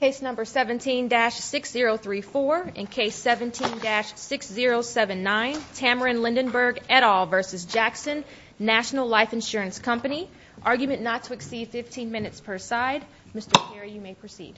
Case No. 17-6034 and Case 17-6079 Tamarin Lindenberg et al. v. Jackson National Life Insurance Company Argument not to exceed 15 minutes per side. Mr. Carey, you may proceed.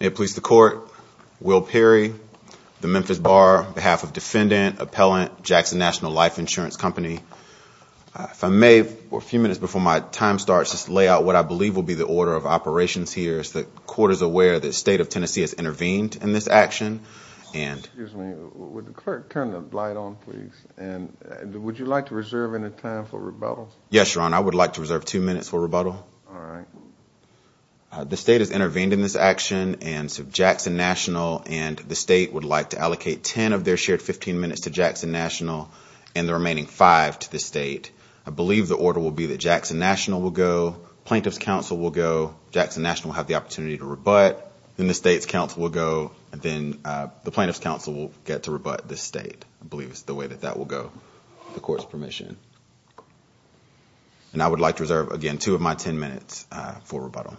May it please the Court, Will Perry, the Memphis Bar, on behalf of Defendant, Appellant, Jackson National Life Insurance Company, if I may, a few minutes before my time starts, just lay out what I believe will be the order of operations here, as the Court is aware that the State of Tennessee has intervened in this action. Excuse me, would the Clerk turn the light on, please, and would you like to reserve any time for rebuttal? Yes, Your Honor, I would like to reserve two minutes for rebuttal. The State has intervened in this action, and so Jackson National and the State would like to allocate 10 of their shared 15 minutes to Jackson National and the remaining 5 to the State. I believe the order will be that Jackson National will go, Plaintiff's Counsel will go, Jackson National will have the opportunity to rebut, then the State's Counsel will go, and then the Plaintiff's Counsel will get to rebut the State. I believe it's the way that that will go, with the Court's permission. And I would like to reserve, again, two of my 10 minutes for rebuttal.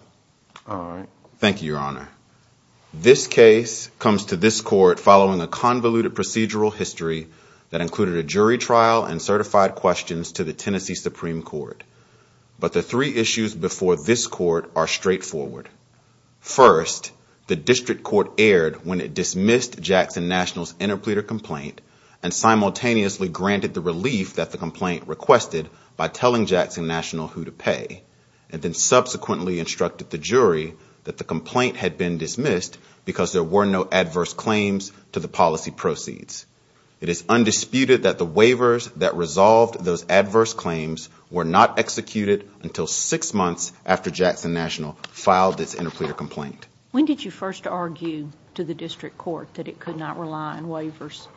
All right. Thank you, Your Honor. This case comes to this Court following a convoluted procedural history that included a jury trial and certified questions to the Tennessee Supreme Court. But the three issues before this Court are straightforward. First, the District Court erred when it dismissed Jackson National's interpleader complaint and simultaneously granted the relief that the complaint requested by telling Jackson National who to pay, and then subsequently instructed the jury that the complaint had been dismissed because there were no adverse claims to the policy proceeds. It is undisputed that the waivers that resolved those adverse claims were not executed until six months after Jackson National filed its interpleader complaint. When did you first argue to the District Court that it could not rely on waivers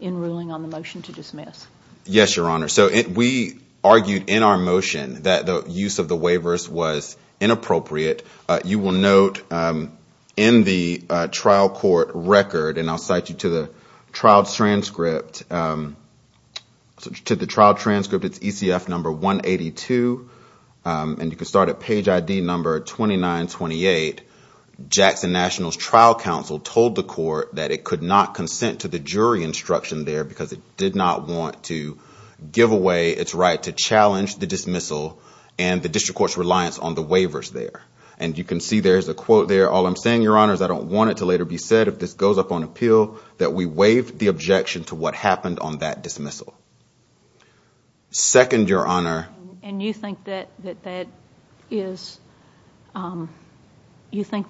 in ruling on the motion to dismiss? Yes, Your Honor. So we argued in our motion that the use of the waivers was inappropriate. You will note in the trial court record, and I'll cite you to the trial transcript, it's ECF number 182, and you can start at page ID number 2928. Jackson National's trial counsel told the court that it could not consent to the jury instruction there because it did not want to give away its right to challenge the dismissal and the District Court's reliance on the waivers there. And you can see there is a quote there. All I'm saying, Your Honor, is I don't want it to later be said, if this goes up on appeal, that we waive the objection to what happened on that dismissal. Second, Your Honor. And you think that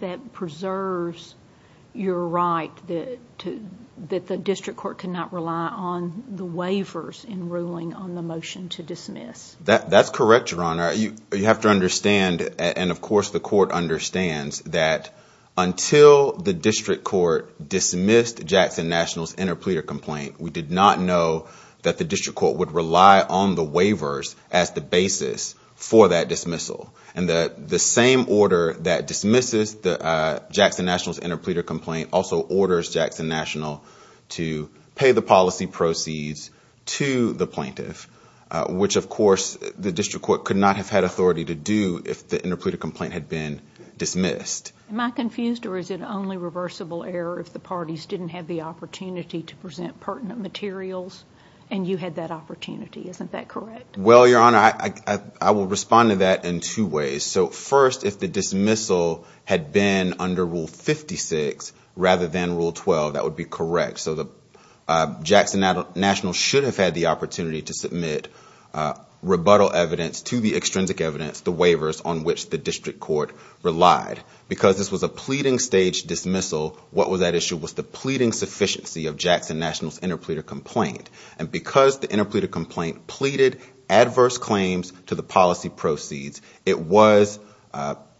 that preserves your right that the District Court cannot rely on the waivers in ruling on the motion to dismiss? That's correct, Your Honor. You have to understand, and of course the court understands, that until the District Court dismissed Jackson National's interpleader complaint, we did not know that the District Court would rely on the waivers as the basis for that dismissal. And the same order that dismisses Jackson National's interpleader complaint also orders Jackson National to pay the policy proceeds to the plaintiff, which, of course, the District Court could not have had authority to do if the interpleader complaint had been dismissed. Am I confused, or is it only reversible error if the parties didn't have the opportunity to present pertinent materials and you had that opportunity? Isn't that correct? Well, Your Honor, I will respond to that in two ways. So first, if the dismissal had been under Rule 56 rather than Rule 12, that would be correct. So Jackson National should have had the opportunity to submit rebuttal evidence to the extrinsic evidence, the waivers, on which the District Court relied. Because this was a pleading-stage dismissal, what was at issue was the pleading sufficiency of Jackson National's interpleader complaint. And because the interpleader complaint pleaded adverse claims to the policy proceeds, it was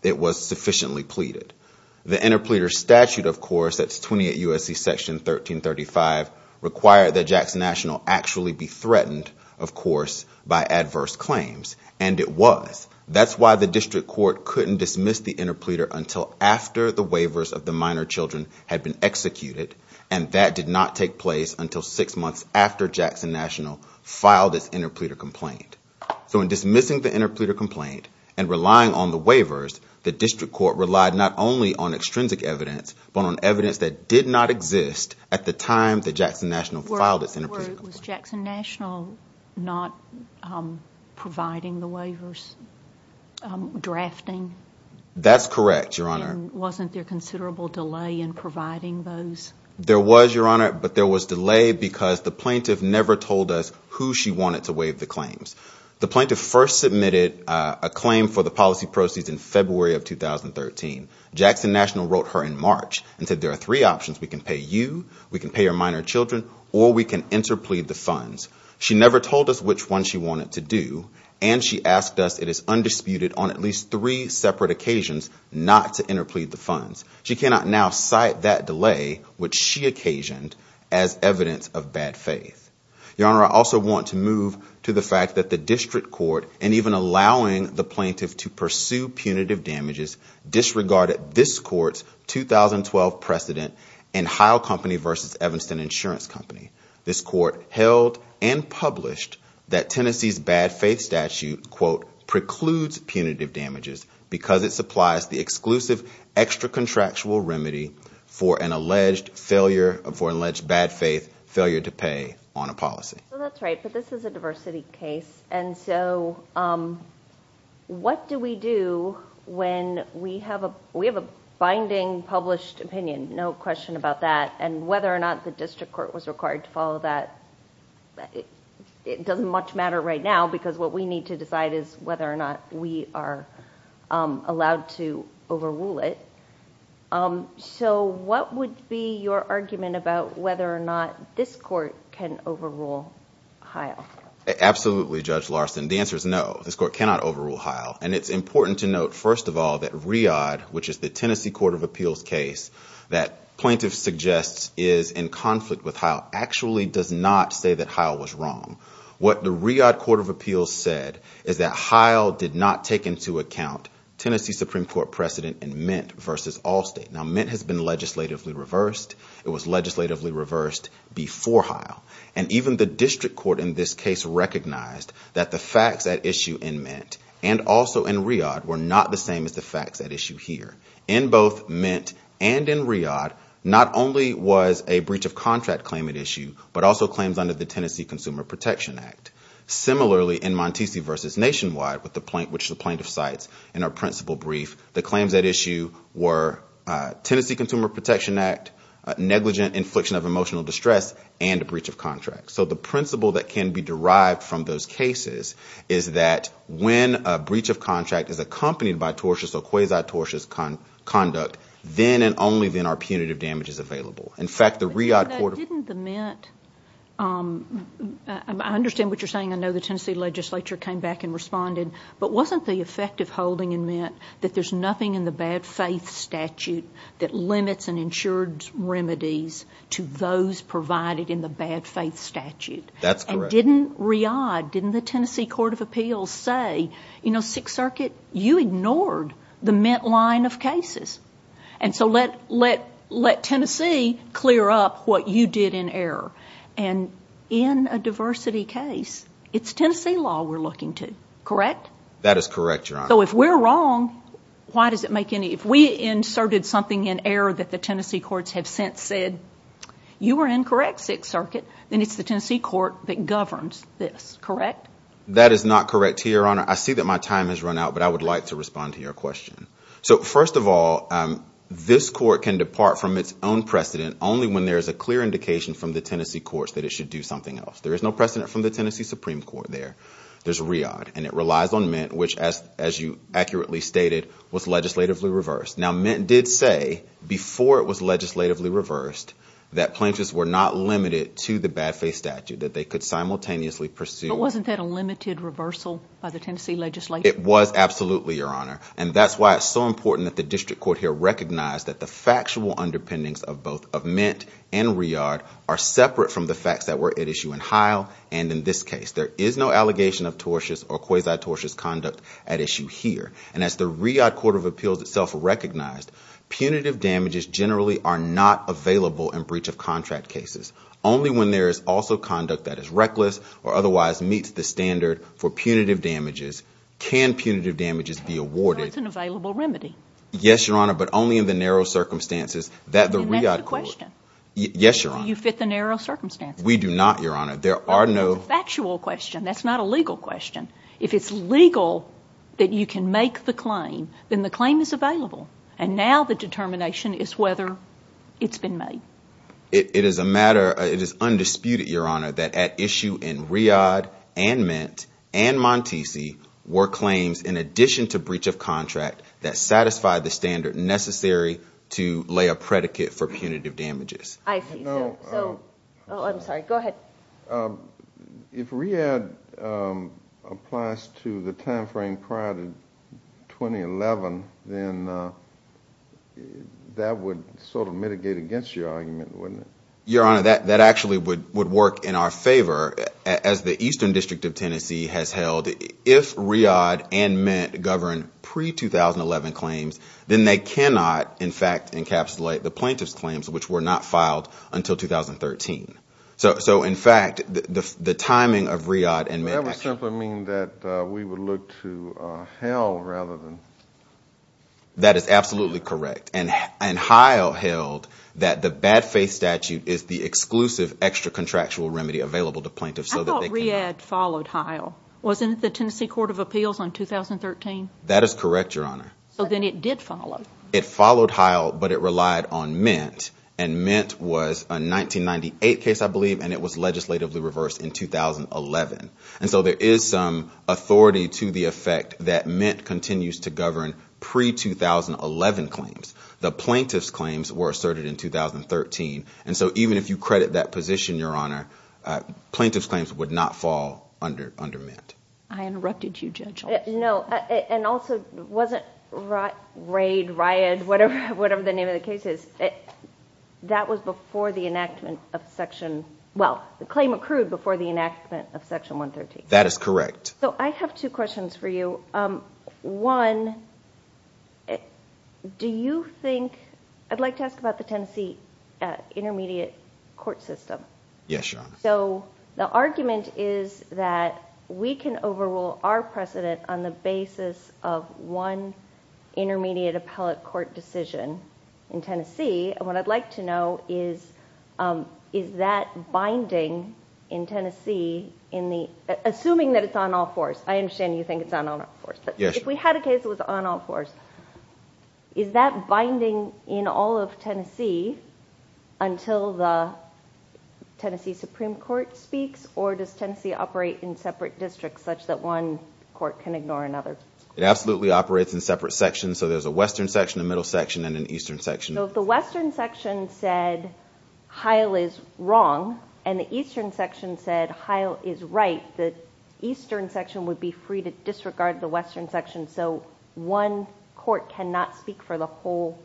sufficiently pleaded. The interpleader statute, of course, that's 28 U.S.C. Section 1335, required that Jackson National actually be threatened, of course, by adverse claims. And it was. That's why the District Court couldn't dismiss the interpleader until after the waivers of the minor children had been executed. And that did not take place until six months after Jackson National filed its interpleader complaint. So in dismissing the interpleader complaint and relying on the waivers, the District Court relied not only on extrinsic evidence, but on evidence that did not exist at the time that Jackson National filed its interpleader complaint. Was Jackson National not providing the waivers, drafting? That's correct, Your Honor. And wasn't there considerable delay in providing those? There was, Your Honor, but there was delay because the plaintiff never told us who she wanted to waive the claims. The plaintiff first submitted a claim for the policy proceeds in February of 2013. Jackson National wrote her in March and said there are three options. We can pay you, we can pay your minor children, or we can interplead the funds. She never told us which one she wanted to do. And she asked us it is undisputed on at least three separate occasions not to interplead the funds. She cannot now cite that delay, which she occasioned, as evidence of bad faith. Your Honor, I also want to move to the fact that the District Court, and even allowing the plaintiff to pursue punitive damages, disregarded this court's 2012 precedent in Heil Company versus Evanston Insurance Company. This court held and published that Tennessee's bad faith statute, quote, precludes punitive damages because it supplies the exclusive extra contractual remedy for an alleged failure, for an alleged bad faith failure to pay on a policy. So that's right, but this is a diversity case. And so what do we do when we have a binding published opinion, no question about that, and whether or not the District Court was required to follow that, it doesn't much matter right now, because what we need to decide is whether or not we are allowed to overrule it. So what would be your argument about whether or not this court can overrule Heil? Absolutely, Judge Larson. The answer is no, this court cannot overrule Heil. And it's important to note, first of all, that Riad, which is the Tennessee Court of Appeals case, that plaintiff suggests is in conflict with Heil, actually does not say that Heil was wrong. What the Riad Court of Appeals said is that Heil did not take into account Tennessee Supreme Court precedent in Mint versus Allstate. Now, Mint has been legislatively reversed. It was legislatively reversed before Heil. And even the District Court in this case recognized that the facts at issue in Mint and also in Riad were not the same as the facts at issue here. In both Mint and in Riad, not only was a breach of contract claim at issue, but also claims under the Tennessee Consumer Protection Act. Similarly, in Montese versus Nationwide, which the plaintiff cites in our principal brief, the claims at issue were Tennessee Consumer Protection Act, negligent infliction of emotional distress, and a breach of contract. So the principle that can be derived from those cases is that when a breach of contract is accompanied by tortuous or quasi-tortuous conduct, then and only then are punitive damages available. In fact, the Riad Court of Appeals ---- But didn't the Mint ---- I understand what you're saying. I know the Tennessee legislature came back and responded. But wasn't the effect of holding in Mint that there's nothing in the bad faith statute that limits and ensures remedies to those provided in the bad faith statute? That's correct. And didn't Riad, didn't the Tennessee Court of Appeals say, you know, Sixth Circuit, you ignored the Mint line of cases. And so let Tennessee clear up what you did in error. And in a diversity case, it's Tennessee law we're looking to, correct? That is correct, Your Honor. So if we're wrong, why does it make any ---- if we inserted something in error that the Tennessee courts have since said, you were incorrect, Sixth Circuit, then it's the Tennessee court that governs this, correct? That is not correct, Your Honor. I see that my time has run out, but I would like to respond to your question. So first of all, this court can depart from its own precedent only when there is a clear indication from the Tennessee courts that it should do something else. There is no precedent from the Tennessee Supreme Court there. There's Riad, and it relies on Mint, which, as you accurately stated, was legislatively reversed. Now, Mint did say before it was legislatively reversed that plaintiffs were not limited to the bad faith statute, that they could simultaneously pursue ---- But wasn't that a limited reversal by the Tennessee legislature? It was absolutely, Your Honor. And that's why it's so important that the district court here recognize that the factual underpinnings of both of Mint and Riad are separate from the facts that were at issue in Heil and in this case. There is no allegation of tortious or quasi-tortious conduct at issue here. And as the Riad Court of Appeals itself recognized, punitive damages generally are not available in breach of contract cases. Only when there is also conduct that is reckless or otherwise meets the standard for punitive damages can punitive damages be awarded. So it's an available remedy? Yes, Your Honor, but only in the narrow circumstances that the Riad Court ---- And that's the question. Yes, Your Honor. You fit the narrow circumstances. We do not, Your Honor. There are no ---- That's a factual question. That's not a legal question. If it's legal that you can make the claim, then the claim is available. And now the determination is whether it's been made. It is a matter ---- It is undisputed, Your Honor, that at issue in Riad and Mint and Montese were claims, in addition to breach of contract, that satisfied the standard necessary to lay a predicate for punitive damages. I see. Oh, I'm sorry. Go ahead. If Riad applies to the timeframe prior to 2011, then that would sort of mitigate against your argument, wouldn't it? Your Honor, that actually would work in our favor. As the Eastern District of Tennessee has held, if Riad and Mint govern pre-2011 claims, then they cannot, in fact, encapsulate the plaintiff's claims, which were not filed until 2013. So, in fact, the timing of Riad and Mint ---- That would simply mean that we would look to Heil rather than ---- That is absolutely correct. And Heil held that the bad faith statute is the exclusive extra-contractual remedy available to plaintiffs so that they can ---- I thought Riad followed Heil. Wasn't it the Tennessee Court of Appeals on 2013? That is correct, Your Honor. So then it did follow. It followed Heil, but it relied on Mint, and Mint was a 1998 case, I believe, and it was legislatively reversed in 2011. And so there is some authority to the effect that Mint continues to govern pre-2011 claims. The plaintiff's claims were asserted in 2013. And so even if you credit that position, Your Honor, plaintiff's claims would not fall under Mint. I interrupted you, Judge Altschulz. No, and also it wasn't Raid, Riad, whatever the name of the case is. That was before the enactment of Section ---- well, the claim accrued before the enactment of Section 113. That is correct. So I have two questions for you. One, do you think ---- I'd like to ask about the Tennessee intermediate court system. Yes, Your Honor. So the argument is that we can overrule our precedent on the basis of one intermediate appellate court decision in Tennessee. What I'd like to know is, is that binding in Tennessee in the ---- assuming that it's on all fours. I understand you think it's on all fours. Yes. If we had a case that was on all fours, is that binding in all of Tennessee until the Tennessee Supreme Court speaks? Or does Tennessee operate in separate districts such that one court can ignore another? It absolutely operates in separate sections. So there's a western section, a middle section, and an eastern section. So if the western section said Heil is wrong and the eastern section said Heil is right, the eastern section would be free to disregard the western section. So one court cannot speak for the whole?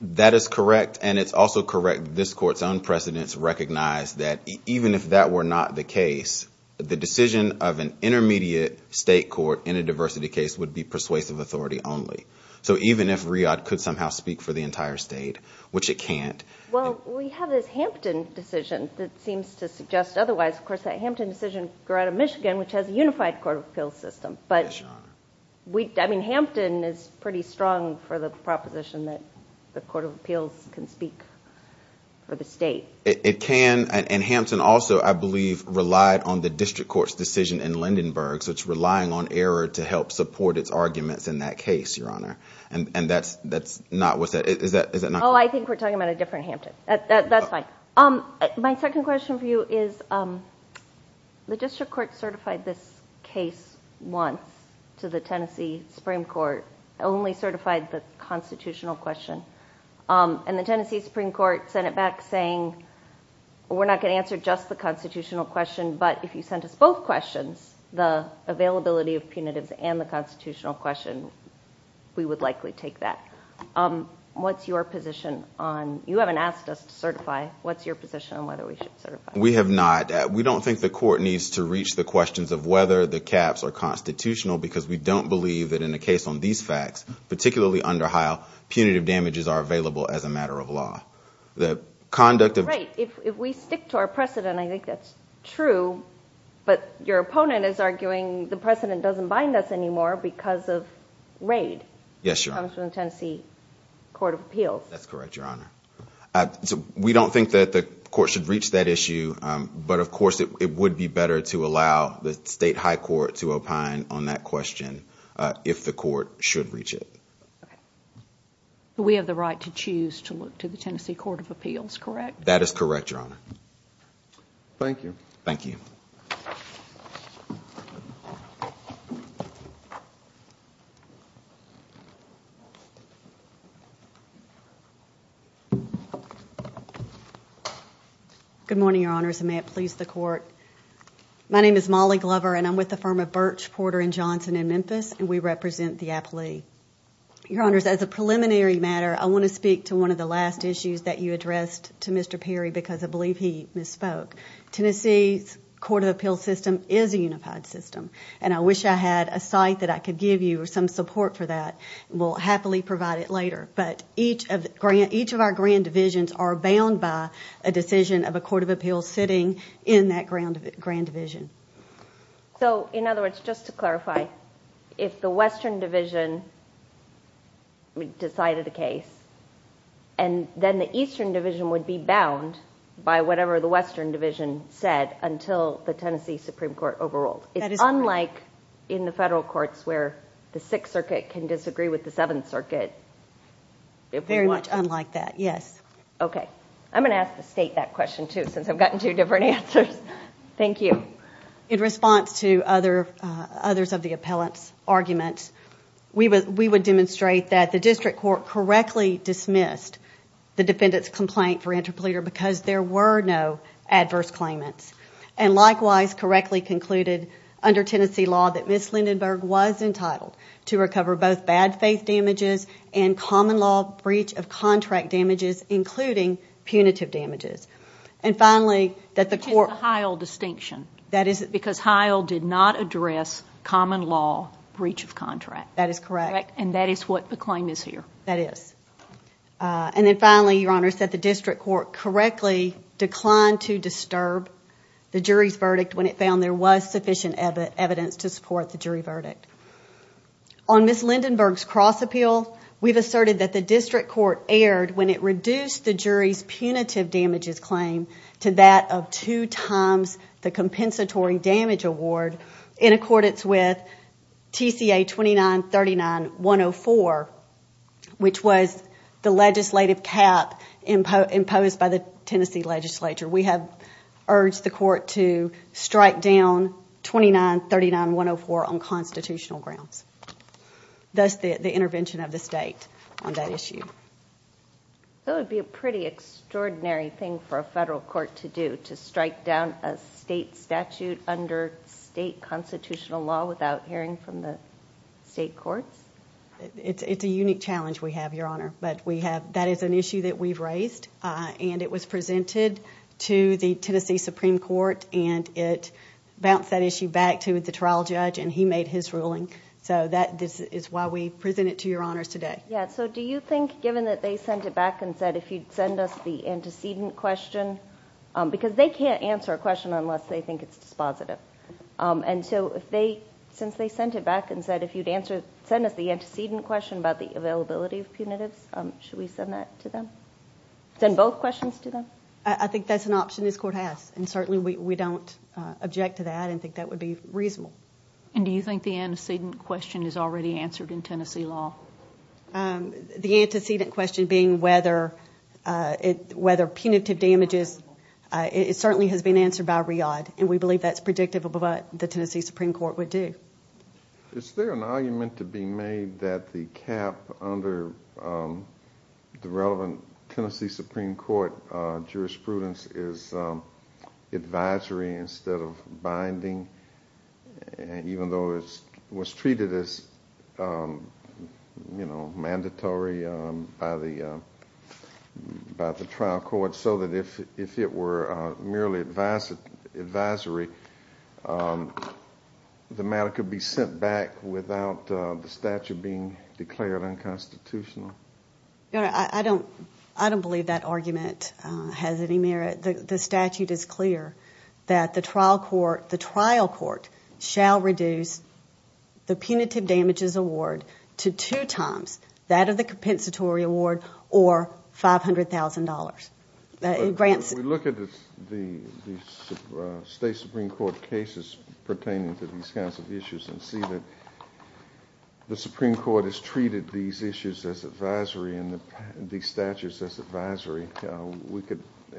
That is correct. And it's also correct that this Court's own precedents recognize that even if that were not the case, the decision of an intermediate state court in a diversity case would be persuasive authority only. So even if RIAD could somehow speak for the entire state, which it can't. Well, we have this Hampton decision that seems to suggest otherwise. Of course, that Hampton decision grew out of Michigan, which has a unified court of appeals system. But, I mean, Hampton is pretty strong for the proposition that the court of appeals can speak for the state. It can. And Hampton also, I believe, relied on the district court's decision in Lindenburg. So it's relying on error to help support its arguments in that case, Your Honor. And that's not what that is. Oh, I think we're talking about a different Hampton. That's fine. My second question for you is the district court certified this case once to the Tennessee Supreme Court, only certified the constitutional question. And the Tennessee Supreme Court sent it back saying we're not going to answer just the constitutional question, but if you sent us both questions, the availability of punitives and the constitutional question, we would likely take that. What's your position on, you haven't asked us to certify, what's your position on whether we should certify? We have not. We don't think the court needs to reach the questions of whether the caps are constitutional, because we don't believe that in a case on these facts, particularly under Hile, punitive damages are available as a matter of law. Right. If we stick to our precedent, I think that's true. But your opponent is arguing the precedent doesn't bind us anymore because of raid. Yes, Your Honor. That comes from the Tennessee Court of Appeals. That's correct, Your Honor. We don't think that the court should reach that issue. But, of course, it would be better to allow the state high court to opine on that question if the court should reach it. We have the right to choose to look to the Tennessee Court of Appeals, correct? That is correct, Your Honor. Thank you. Thank you. Good morning, Your Honors, and may it please the Court. My name is Molly Glover, and I'm with the firm of Birch, Porter & Johnson in Memphis, and we represent the appellee. Your Honors, as a preliminary matter, I want to speak to one of the last issues that you addressed to Mr. Perry because I believe he misspoke. Tennessee's Court of Appeals system is a unified system, and I wish I had a site that I could give you or some support for that. We'll happily provide it later. But each of our grand divisions are bound by a decision of a court of appeals sitting in that grand division. So, in other words, just to clarify, if the western division decided a case, and then the eastern division would be bound by whatever the western division said until the Tennessee Supreme Court overruled. That is correct. It's unlike in the federal courts where the Sixth Circuit can disagree with the Seventh Circuit. Very much unlike that, yes. Okay. I'm going to ask the State that question, too, since I've gotten two different answers. Thank you. In response to others of the appellant's arguments, we would demonstrate that the district court correctly dismissed the defendant's complaint for interpolator because there were no adverse claimants. And likewise, correctly concluded under Tennessee law that Ms. Lindenburg was entitled to recover both bad faith damages and common law breach of contract damages, including punitive damages. And finally, that the court- It's a Heil distinction. That is- Because Heil did not address common law breach of contract. That is correct. And that is what the claim is here. That is. And then finally, Your Honor, said the district court correctly declined to disturb the jury's verdict when it found there was sufficient evidence to support the jury verdict. On Ms. Lindenburg's cross appeal, we've asserted that the district court erred when it reduced the jury's punitive damages claim to that of two times the compensatory damage award in accordance with TCA 2939-104, which was the legislative cap imposed by the Tennessee legislature. We have urged the court to strike down 2939-104 on constitutional grounds, thus the intervention of the state on that issue. That would be a pretty extraordinary thing for a federal court to do, to strike down a state statute under state constitutional law without hearing from the state courts. It's a unique challenge we have, Your Honor. But that is an issue that we've raised, and it was presented to the Tennessee Supreme Court, and it bounced that issue back to the trial judge, and he made his ruling. So this is why we present it to Your Honors today. Yeah, so do you think, given that they sent it back and said, if you'd send us the antecedent question, because they can't answer a question unless they think it's dispositive. And so since they sent it back and said, if you'd send us the antecedent question about the availability of punitives, should we send that to them? Send both questions to them? I think that's an option this court has, and certainly we don't object to that and think that would be reasonable. And do you think the antecedent question is already answered in Tennessee law? The antecedent question being whether punitive damages, it certainly has been answered by RIAD, and we believe that's predictive of what the Tennessee Supreme Court would do. Is there an argument to be made that the cap under the relevant Tennessee Supreme Court jurisprudence is advisory instead of binding, even though it was treated as mandatory by the trial court, so that if it were merely advisory, the matter could be sent back without the statute being declared unconstitutional? I don't believe that argument has any merit. The statute is clear that the trial court shall reduce the punitive damages award to two times that of the compensatory award or $500,000. If we look at the state Supreme Court cases pertaining to these kinds of issues and see that the Supreme Court has treated these issues as advisory and these statutes as advisory,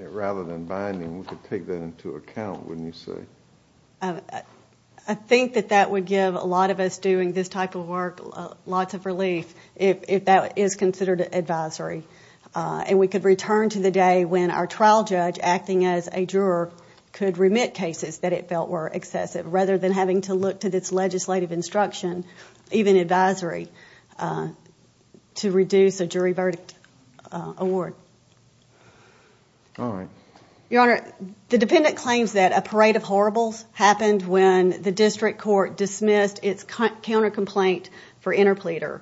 rather than binding, we could take that into account, wouldn't you say? I think that that would give a lot of us doing this type of work lots of relief if that is considered advisory. And we could return to the day when our trial judge, acting as a juror, could remit cases that it felt were excessive, rather than having to look to this legislative instruction, even advisory, to reduce a jury verdict award. Your Honor, the defendant claims that a parade of horribles happened when the district court dismissed its counter-complaint for interpleader.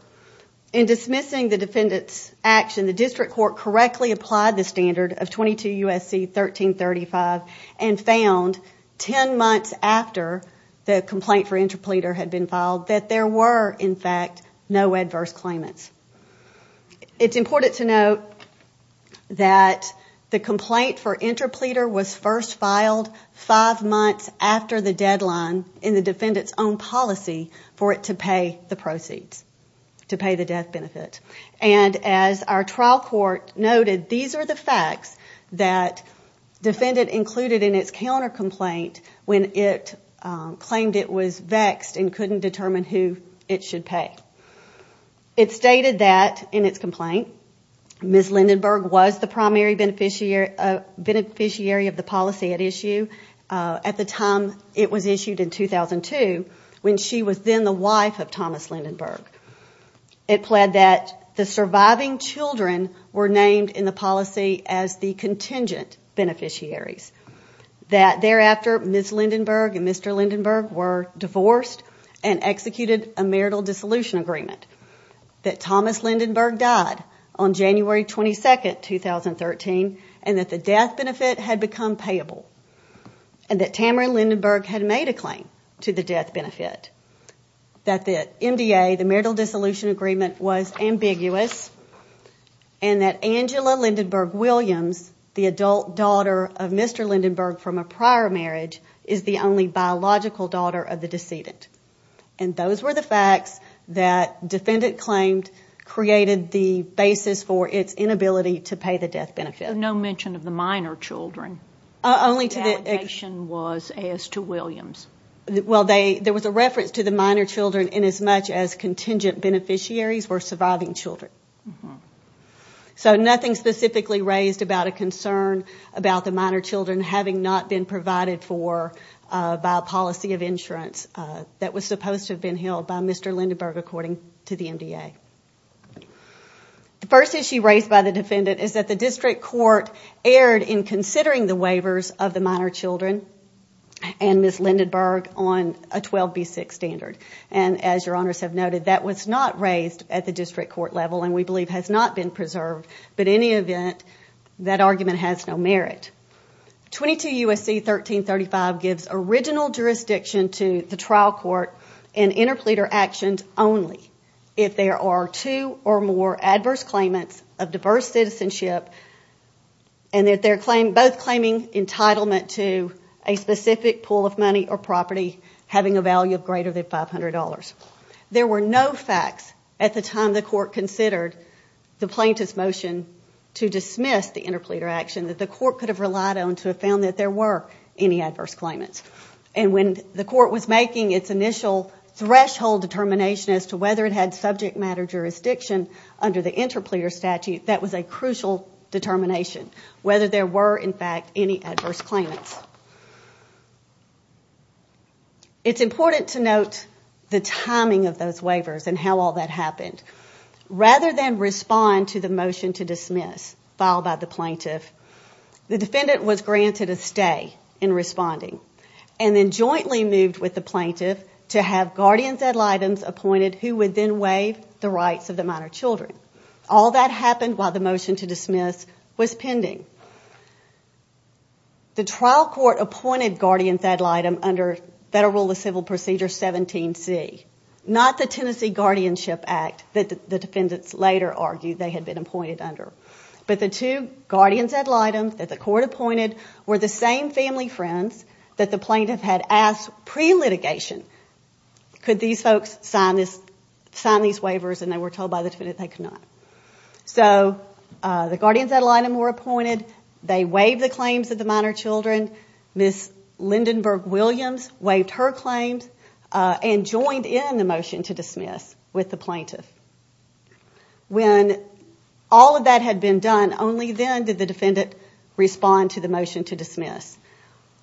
In dismissing the defendant's action, the district court correctly applied the standard of 22 U.S.C. 1335 and found 10 months after the complaint for interpleader had been filed that there were, in fact, no adverse claimants. It's important to note that the complaint for interpleader was first filed five months after the deadline in the defendant's own policy for it to pay the proceeds, to pay the death benefit. And as our trial court noted, these are the facts that defendant included in its counter-complaint when it claimed it was vexed and couldn't determine who it should pay. It stated that, in its complaint, Ms. Lindenburg was the primary beneficiary of the policy at issue at the time it was issued in 2002, when she was then the wife of Thomas Lindenburg. It pled that the surviving children were named in the policy as the contingent beneficiaries, that thereafter Ms. Lindenburg and Mr. Lindenburg were divorced and executed a marital dissolution agreement, that Thomas Lindenburg died on January 22, 2013, and that the death benefit had become payable, and that Tamara Lindenburg had made a claim to the death benefit, that the MDA, the marital dissolution agreement, was ambiguous, and that Angela Lindenburg Williams, the adult daughter of Mr. Lindenburg from a prior marriage, is the only biological daughter of the decedent. And those were the facts that defendant claimed created the basis for its inability to pay the death benefit. No mention of the minor children. Only to the... The allegation was as to Williams. Well, there was a reference to the minor children in as much as contingent beneficiaries were surviving children. So nothing specifically raised about a concern about the minor children having not been provided for by a policy of insurance that was supposed to have been held by Mr. Lindenburg, according to the MDA. The first issue raised by the defendant is that the district court erred in considering the waivers of the minor children, and Ms. Lindenburg, on a 12B6 standard. And as your honors have noted, that was not raised at the district court level, and we believe has not been preserved. But in any event, that argument has no merit. 22 U.S.C. 1335 gives original jurisdiction to the trial court in interpleader actions only if there are two or more adverse claimants of diverse citizenship, and that they're both claiming entitlement to a specific pool of money or property having a value of greater than $500. There were no facts at the time the court considered the plaintiff's motion to dismiss the interpleader action that the court could have relied on to have found that there were any adverse claimants. And when the court was making its initial threshold determination as to whether it had subject matter jurisdiction under the interpleader statute, that was a crucial determination, whether there were, in fact, any adverse claimants. It's important to note the timing of those waivers and how all that happened. Rather than respond to the motion to dismiss filed by the plaintiff, the defendant was granted a stay in responding, and then jointly moved with the plaintiff to have guardians ad litems appointed who would then waive the rights of the minor children. All that happened while the motion to dismiss was pending. The trial court appointed guardians ad litem under Federal Civil Procedure 17C, not the Tennessee Guardianship Act that the defendants later argued they had been appointed under. But the two guardians ad litems that the court appointed were the same family friends that the plaintiff had asked pre-litigation, could these folks sign these waivers, and they were told by the defendant they could not. The guardians ad litem were appointed. They waived the claims of the minor children. Ms. Lindenburg Williams waived her claims and joined in the motion to dismiss with the plaintiff. When all of that had been done, only then did the defendant respond to the motion to dismiss,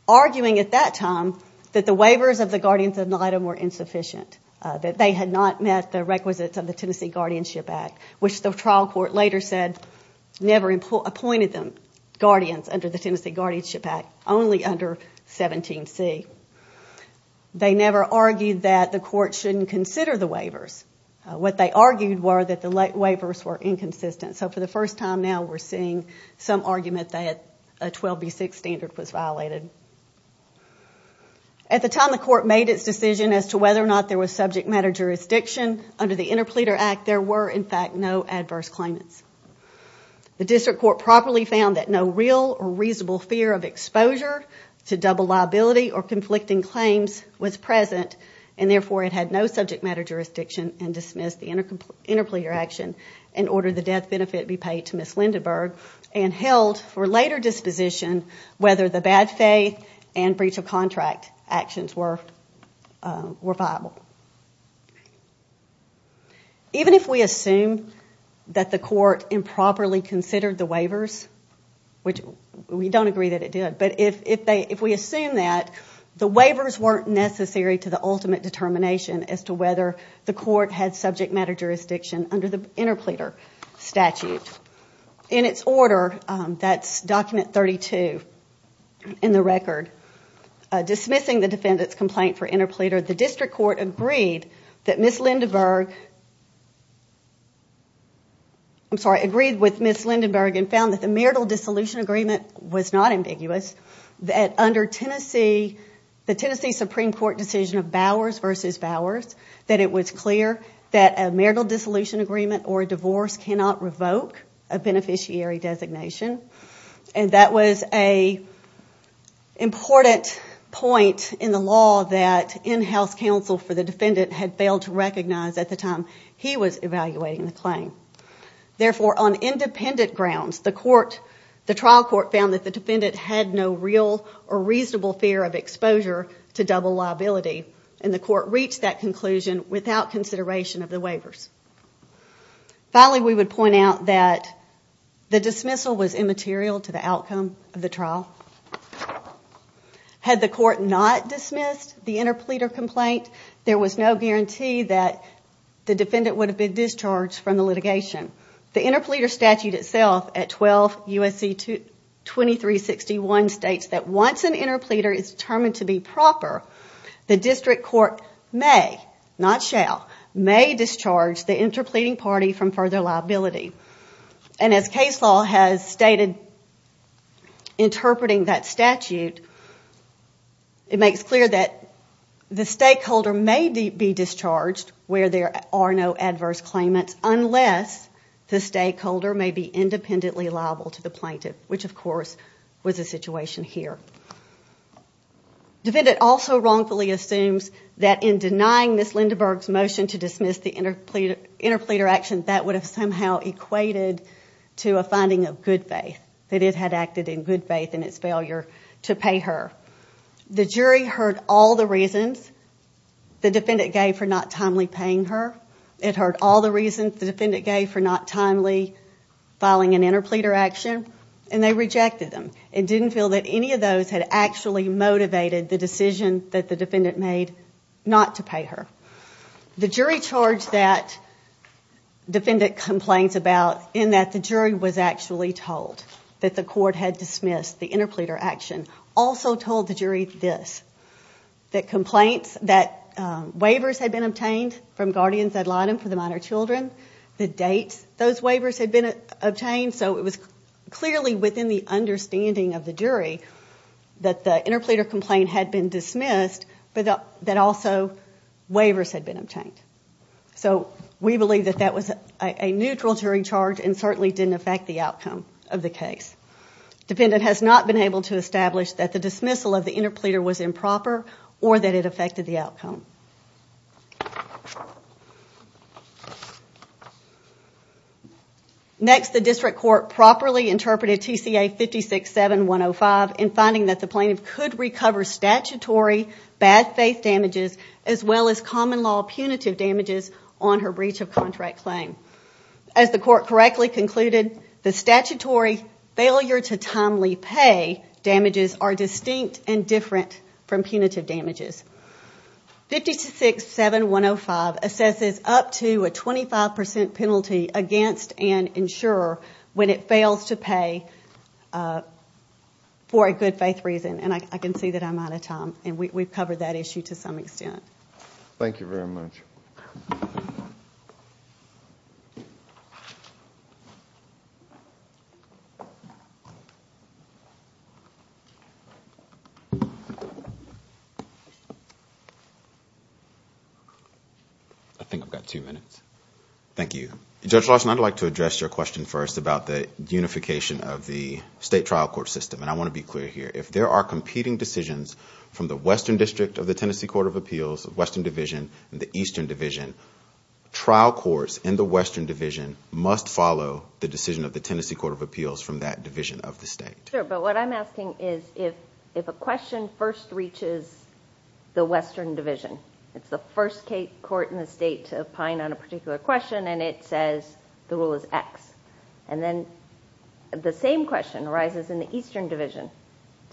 arguing at that time that the waivers of the guardians ad litem were insufficient, that they had not met the requisites of the Tennessee Guardianship Act, which the trial court later said never appointed them guardians under the Tennessee Guardianship Act, only under 17C. They never argued that the court shouldn't consider the waivers. What they argued were that the waivers were inconsistent. So for the first time now, we're seeing some argument that a 12B6 standard was violated. At the time the court made its decision as to whether or not there was subject matter jurisdiction under the Interpleader Act, there were, in fact, no adverse claimants. The district court properly found that no real or reasonable fear of exposure to double liability or conflicting claims was present, and therefore it had no subject matter jurisdiction and dismissed the Interpleader Action and ordered the death benefit be paid to Ms. Lindenburg and held for later disposition whether the bad faith and breach of contract actions were viable. Even if we assume that the court improperly considered the waivers, which we don't agree that it did, but if we assume that, the waivers weren't necessary to the ultimate determination as to whether the court had subject matter jurisdiction under the Interpleader statute. In its order, that's document 32 in the record, dismissing the defendant's complaint for interpleader, the district court agreed with Ms. Lindenburg and found that the marital dissolution agreement was not ambiguous, that under the Tennessee Supreme Court decision of Bowers v. Bowers, that it was clear that a marital dissolution agreement or a divorce cannot revoke a beneficiary designation, and that was an important point in the law that in-house counsel for the defendant had failed to recognize at the time he was evaluating the claim. Therefore, on independent grounds, the trial court found that the defendant had no real or reasonable fear of exposure to double liability, and the court reached that conclusion without consideration of the waivers. Finally, we would point out that the dismissal was immaterial to the outcome of the trial. Had the court not dismissed the interpleader complaint, there was no guarantee that the defendant would have been discharged from the litigation. The Interpleader statute itself at 12 U.S.C. 2361 states that once an interpleader is determined to be proper, the district court may, not shall, may discharge the interpleading party from further liability. And as case law has stated interpreting that statute, it makes clear that the stakeholder may be discharged where there are no adverse claimants unless the stakeholder may be independently liable to the plaintiff, which of course was the situation here. Defendant also wrongfully assumes that in denying Ms. Lindenburg's motion to dismiss the interpleader action, that would have somehow equated to a finding of good faith, that it had acted in good faith in its failure to pay her. The jury heard all the reasons the defendant gave for not timely paying her. It heard all the reasons the defendant gave for not timely filing an interpleader action, and they rejected them. It didn't feel that any of those had actually motivated the decision that the defendant made not to pay her. The jury charged that defendant complains about in that the jury was actually told that the court had dismissed the interpleader action. Also told the jury this, that complaints that waivers had been obtained from guardians ad litem for the minor children, the date those waivers had been obtained, so it was clearly within the understanding of the jury that the interpleader complaint had been dismissed, but that also waivers had been obtained. So we believe that that was a neutral jury charge and certainly didn't affect the outcome of the case. Defendant has not been able to establish that the dismissal of the interpleader was improper or that it affected the outcome. Next, the district court properly interpreted TCA 56-7-105 in finding that the plaintiff could recover statutory bad faith damages as well as common law punitive damages on her breach of contract claim. As the court correctly concluded, the statutory failure to timely pay damages are distinct and different from punitive damages. 56-7-105 assesses up to a 25% penalty against an insurer when it fails to pay for a good faith reason, and I can see that I'm out of time. And we've covered that issue to some extent. Thank you. I think I've got two minutes. Thank you. Judge Larson, I'd like to address your question first about the unification of the state trial court system, and I want to be clear here. If there are competing decisions from the Western District of the Tennessee Court of Appeals, Western Division, and the Eastern Division, trial courts in the Western Division must follow the decision of the Tennessee Court of Appeals from that division of the state. Sure, but what I'm asking is if a question first reaches the Western Division, it's the first court in the state to opine on a particular question, and it says the rule is X. Does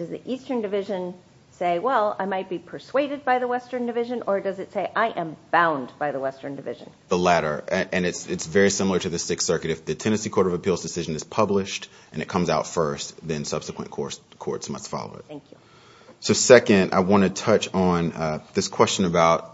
the Eastern Division say, well, I might be persuaded by the Western Division, or does it say, I am bound by the Western Division? The latter, and it's very similar to the Sixth Circuit. If the Tennessee Court of Appeals decision is published and it comes out first, then subsequent courts must follow it. Thank you. So second, I want to touch on this question about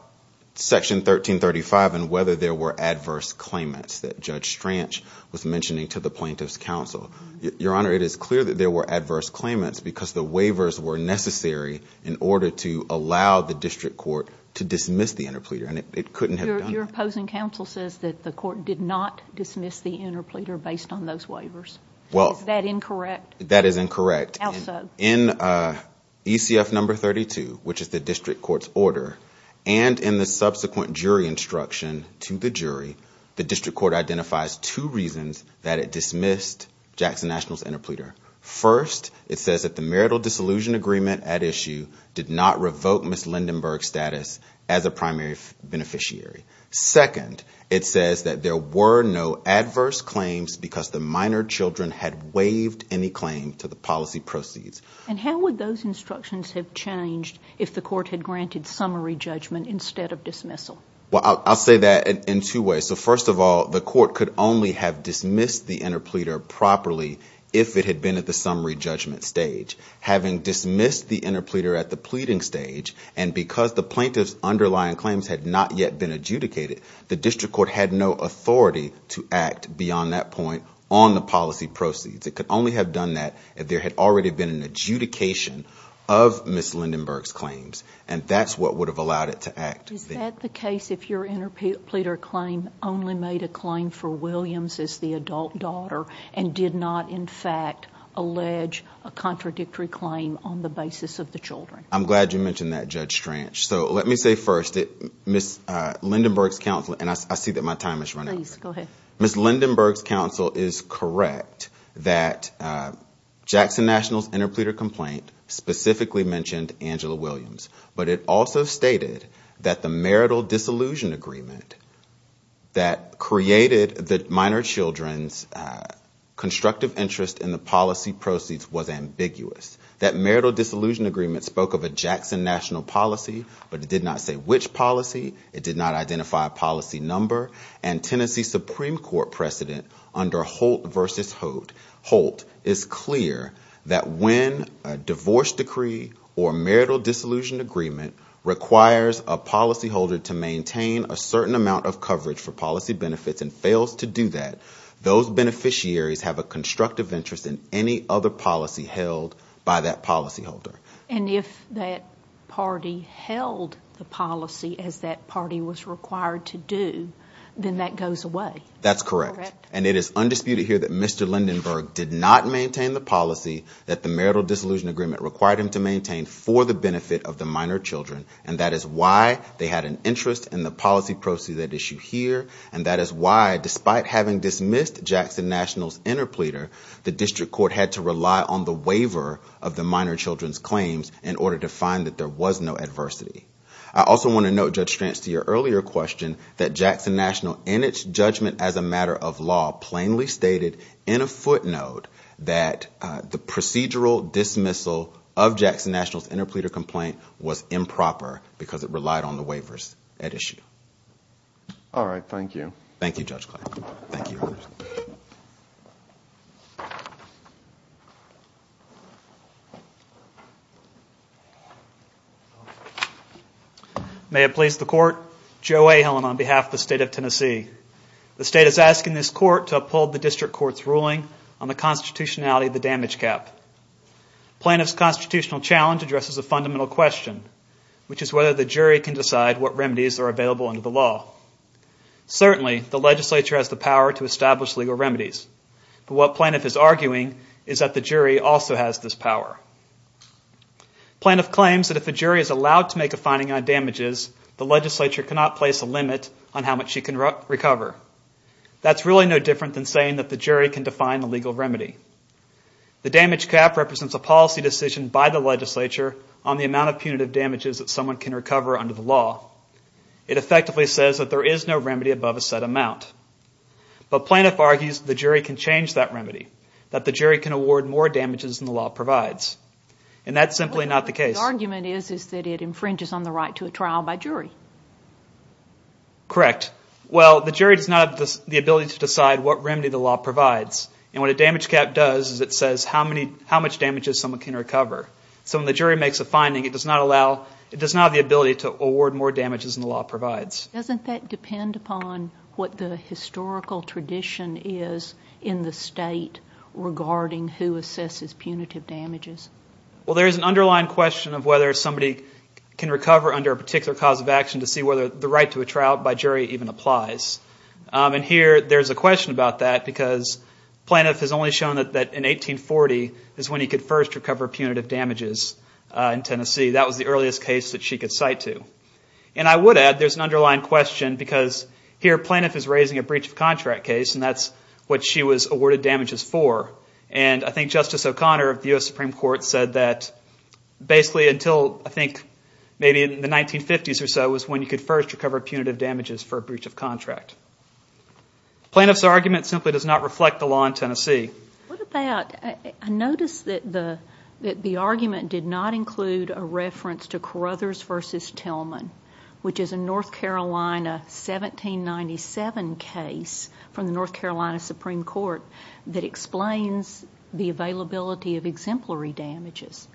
Section 1335 and whether there were adverse claimants that Judge Stranch was mentioning to the Plaintiffs' Counsel. Your Honor, it is clear that there were adverse claimants because the waivers were necessary in order to allow the district court to dismiss the interpleader, and it couldn't have done that. Your opposing counsel says that the court did not dismiss the interpleader based on those waivers. Is that incorrect? That is incorrect. In ECF No. 32, which is the district court's order, and in the subsequent jury instruction to the jury, the district court identifies two reasons that it dismissed Jackson Nationals' interpleader. First, it says that the marital disillusion agreement at issue did not revoke Ms. Lindenburg's status as a primary beneficiary. Second, it says that there were no adverse claims because the minor children had waived any claim from the district court. And how would those instructions have changed if the court had granted summary judgment instead of dismissal? Well, I'll say that in two ways. So first of all, the court could only have dismissed the interpleader properly if it had been at the summary judgment stage. Having dismissed the interpleader at the pleading stage, and because the plaintiff's underlying claims had not yet been adjudicated, the district court had no authority to act beyond that point on the policy proceeds. It could only have done that if there had already been an adjudication of Ms. Lindenburg's claims, and that's what would have allowed it to act. Is that the case if your interpleader claim only made a claim for Williams as the adult daughter and did not, in fact, allege a contradictory claim on the basis of the children? I'm glad you mentioned that, Judge Stranch. So let me say first that Ms. Lindenburg's counsel, and I see that my time is running out. Please, go ahead. Ms. Lindenburg's counsel is correct that Jackson National's interpleader complaint specifically mentioned Angela Williams, but it also stated that the marital disillusion agreement that created the minor children's constructive interest in the policy proceeds was ambiguous. That marital disillusion agreement spoke of a Jackson National policy, but it did not say which policy. It did not identify a policy number. And Tennessee Supreme Court precedent under Holt v. Holt is clear that when a divorce decree or marital disillusion agreement requires a policyholder to maintain a certain amount of coverage for policy benefits and fails to do that, those beneficiaries have a constructive interest in any other policy held by that policyholder. And if that party held the policy as that party was required to do, then that goes away. That's correct. And it is undisputed here that Mr. Lindenburg did not maintain the policy that the marital disillusion agreement required him to maintain for the benefit of the minor children. And that is why they had an interest in the policy proceeds at issue here. And that is why, despite having dismissed Jackson National's interpleader, the district court had to rely on the waiver of the minor children's claims in order to find that there was no adversity. I also want to note, Judge Stranz, to your earlier question that Jackson National, in its judgment as a matter of law, plainly stated in a footnote that the procedural dismissal of Jackson National's interpleader complaint was improper because it relied on the waivers at issue. All right. Thank you. May it please the Court, Joe A. Hillen on behalf of the State of Tennessee. The State is asking this Court to uphold the district court's ruling on the constitutionality of the damage cap. Plaintiff's constitutional challenge addresses a fundamental question, which is whether the damage cap is punishable under the law. Certainly, the legislature has the power to establish legal remedies. But what plaintiff is arguing is that the jury also has this power. Plaintiff claims that if a jury is allowed to make a finding on damages, the legislature cannot place a limit on how much she can recover. That's really no different than saying that the jury can define the legal remedy. The damage cap represents a policy decision by the legislature on the amount of punitive damages that someone can recover under the law. It effectively says that there is no remedy above a set amount. But plaintiff argues the jury can change that remedy, that the jury can award more damages than the law provides. And that's simply not the case. Correct. Well, the jury does not have the ability to decide what remedy the law provides. And what a damage cap does is it says how much damages someone can recover. So when the jury makes a finding, it does not have the ability to award more damages than the law provides. Doesn't that depend upon what the historical tradition is in the State regarding who assesses punitive damages? Well, there's an underlying question of whether somebody can recover under a particular cause of action to see whether the right to a trial by jury even applies. And here there's a question about that, because plaintiff has only shown that in 1840 is when he could first recover punitive damages in Tennessee. That was the earliest case that she could cite to. And I would add there's an underlying question, because here plaintiff is raising a breach of contract case, and that's what she was awarded damages for. And I think Justice O'Connor of the U.S. Supreme Court said that basically until, I think, maybe in the 1950s or so, was when you could first recover punitive damages for a breach of contract. Plaintiff's argument simply does not reflect the law in Tennessee. What about, I noticed that the argument did not include a reference to Carothers v. Tillman, which is a North Carolina 1797 case from the North Carolina Supreme Court, that explains the availability of exemplary damages.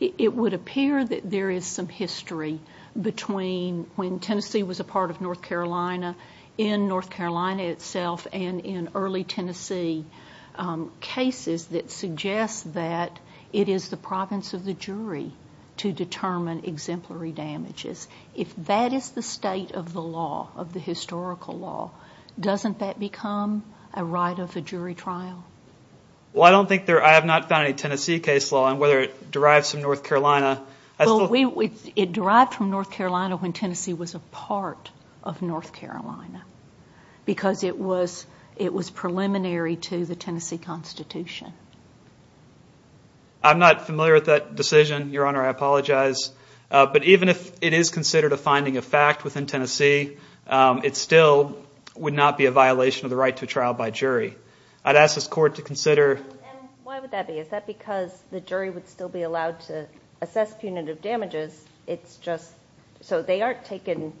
It would appear that there is some history between when Tennessee was a part of North Carolina, in North Carolina itself, and in early Tennessee, cases that suggest that it is the province of the jury to determine exemplary damages. If that is the state of the law, of the historical law, doesn't that become a right of a jury trial? Well, I don't think there, I have not found a Tennessee case law, and whether it derives from North Carolina. Well, it derived from North Carolina when Tennessee was a part of North Carolina, because it was preliminary to the Tennessee Constitution. I'm not familiar with that decision, Your Honor, I apologize. But even if it is considered a finding of fact within Tennessee, it still would not be a violation of the right to trial by jury. And why would that be? Is that because the jury would still be allowed to assess punitive damages, it's just, so they aren't taken,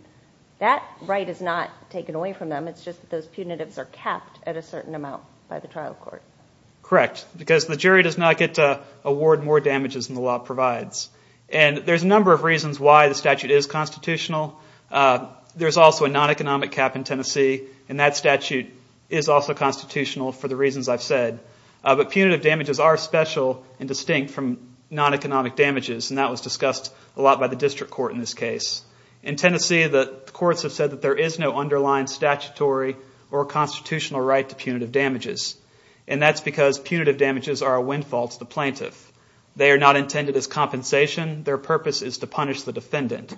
that right is not taken away from them, it's just that those punitives are capped at a certain amount by the trial court. Correct, because the jury does not get to award more damages than the law provides. And there's a number of reasons why the statute is constitutional. There's also a non-economic cap in Tennessee, and that statute is also constitutional for the reasons I've said. But punitive damages are special and distinct from non-economic damages, and that was discussed a lot by the district court in this case. In Tennessee, the courts have said that there is no underlying statutory or constitutional right to punitive damages, and that's because punitive damages are a windfall to the plaintiff. They are not intended as compensation, their purpose is to punish the defendant.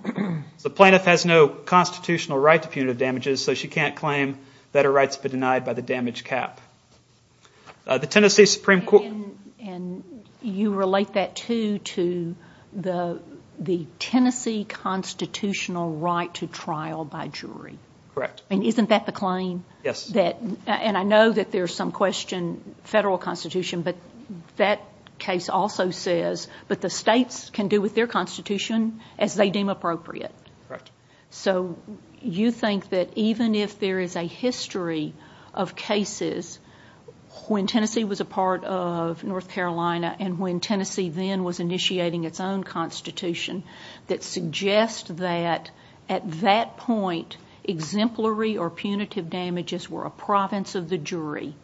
The plaintiff has no constitutional right to punitive damages, so she can't claim that her rights have been denied by the damage cap. And you relate that, too, to the Tennessee constitutional right to trial by jury. Correct. And isn't that the claim? Yes. And I know that there's some question, federal constitution, but that case also says, but the states can do with their constitution as they deem appropriate. Correct. So you think that even if there is a history of cases when Tennessee was a part of North Carolina and when Tennessee then was initiating its own constitution, that suggest that at that point exemplary or punitive damages were a province of the jury,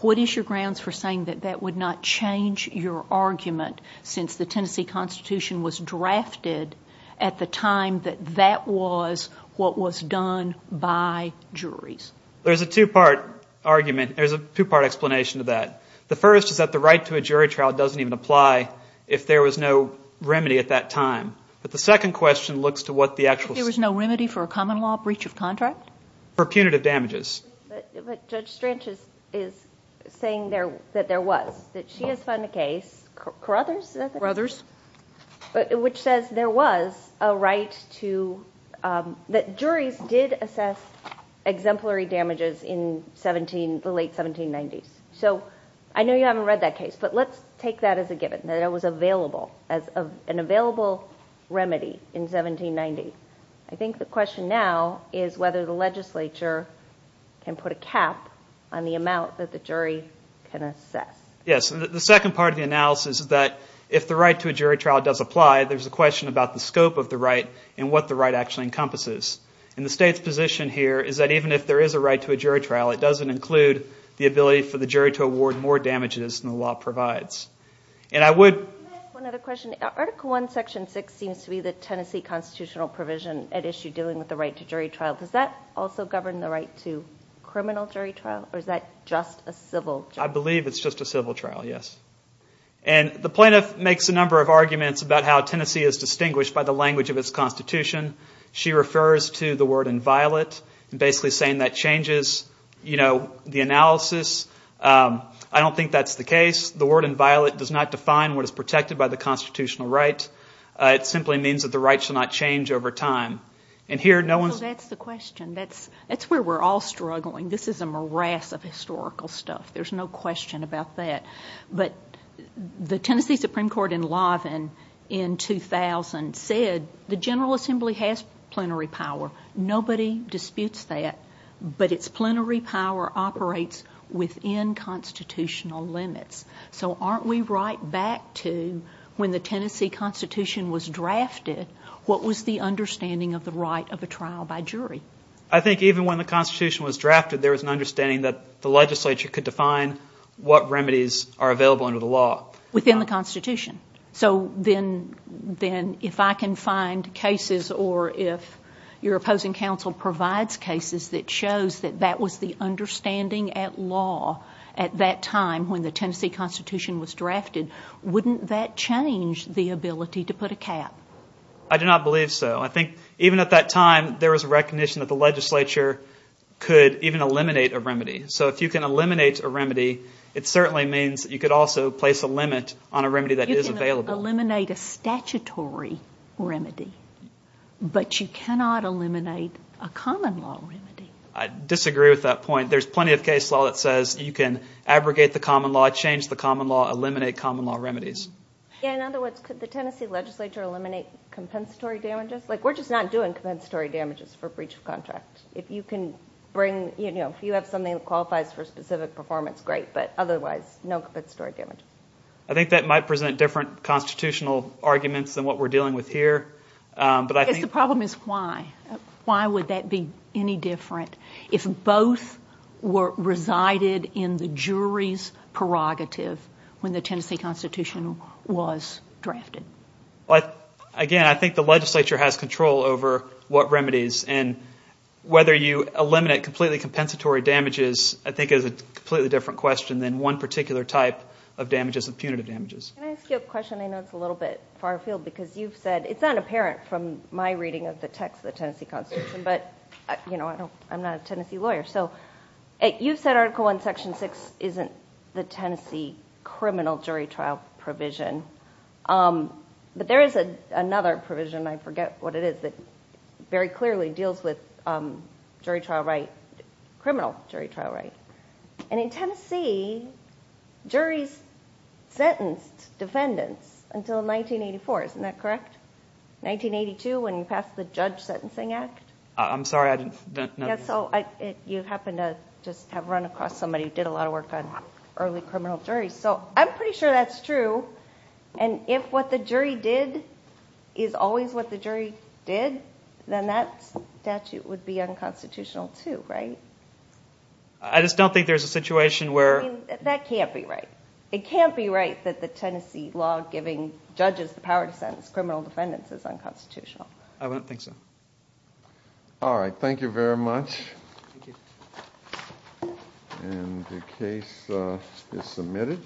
what is your grounds for saying that that would not change your argument, since the Tennessee constitution was drafted at the time that that was what was done by juries? There's a two-part argument. There's a two-part explanation to that. The first is that the right to a jury trial doesn't even apply if there was no remedy at that time. But the second question looks to what the actual... If there was no remedy for a common law breach of contract? For punitive damages. But Judge Strange is saying that there was, that she has found a case, Carothers, which says there was a right to, that juries did assess exemplary damages in the late 1790s. So I know you haven't read that case, but let's take that as a given, that it was available, an available remedy in 1790. I think the question now is whether the legislature can put a cap on the amount that the jury can assess. Yes, the second part of the analysis is that if the right to a jury trial does apply, there's a question about the scope of the right and what the right actually encompasses. And the state's position here is that even if there is a right to a jury trial, it doesn't include the ability for the jury to award more damages than the law provides. And I would... Does that also govern the right to criminal jury trial, or is that just a civil trial? I believe it's just a civil trial, yes. And the plaintiff makes a number of arguments about how Tennessee is distinguished by the language of its Constitution. She refers to the word inviolate, basically saying that changes, you know, the analysis. I don't think that's the case. The word inviolate does not define what is protected by the Constitutional right. It simply means that the right shall not change over time. And here, no one's... Tennessee has plenary power. Nobody disputes that, but its plenary power operates within Constitutional limits. So aren't we right back to when the Tennessee Constitution was drafted, what was the understanding of the right of a trial by jury? I think even when the Constitution was drafted, there was an understanding that the legislature could define what remedies are available under the law. Within the Constitution. So then if I can find cases or if your opposing counsel provides cases that shows that that was the understanding at law at that time when the Tennessee Constitution was drafted, wouldn't that change the ability to put a cap? I do not believe so. I think even at that time, there was a recognition that the legislature could even eliminate a remedy. So if you can eliminate a remedy, it certainly means you could also place a limit on a remedy that is available. You can eliminate a statutory remedy, but you cannot eliminate a common law remedy. I disagree with that point. There's plenty of case law that says you can abrogate the common law, change the common law, eliminate common law remedies. In other words, could the Tennessee legislature eliminate compensatory damages? We're just not doing compensatory damages for breach of contract. If you have something that qualifies for specific performance, great, but otherwise, no compensatory damages. I think that might present different Constitutional arguments than what we're dealing with here. The problem is why. Why would that be any different if both were resided in the jury's prerogative when the Tennessee Constitution was drafted? Again, I think the legislature has control over what remedies. And whether you eliminate completely compensatory damages I think is a completely different question than one particular type of damages, which is the punitive damages. It's not apparent from my reading of the text of the Tennessee Constitution, but I'm not a Tennessee lawyer. You've said Article I, Section 6 isn't the Tennessee criminal jury trial provision, but there is another provision, I forget what it is, that very clearly deals with criminal jury trial right. And in Tennessee, juries sentenced defendants until 1984, isn't that correct? 1982 when you passed the Judge Sentencing Act. You happen to have run across somebody who did a lot of work on early criminal juries. So I'm pretty sure that's true, and if what the jury did is always what the jury did, then that statute would be unconstitutional too, right? I just don't think there's a situation where... That can't be right. It can't be right that the Tennessee law giving judges the power to sentence criminal defendants is unconstitutional. I don't think so. All right, thank you very much. And the case is submitted.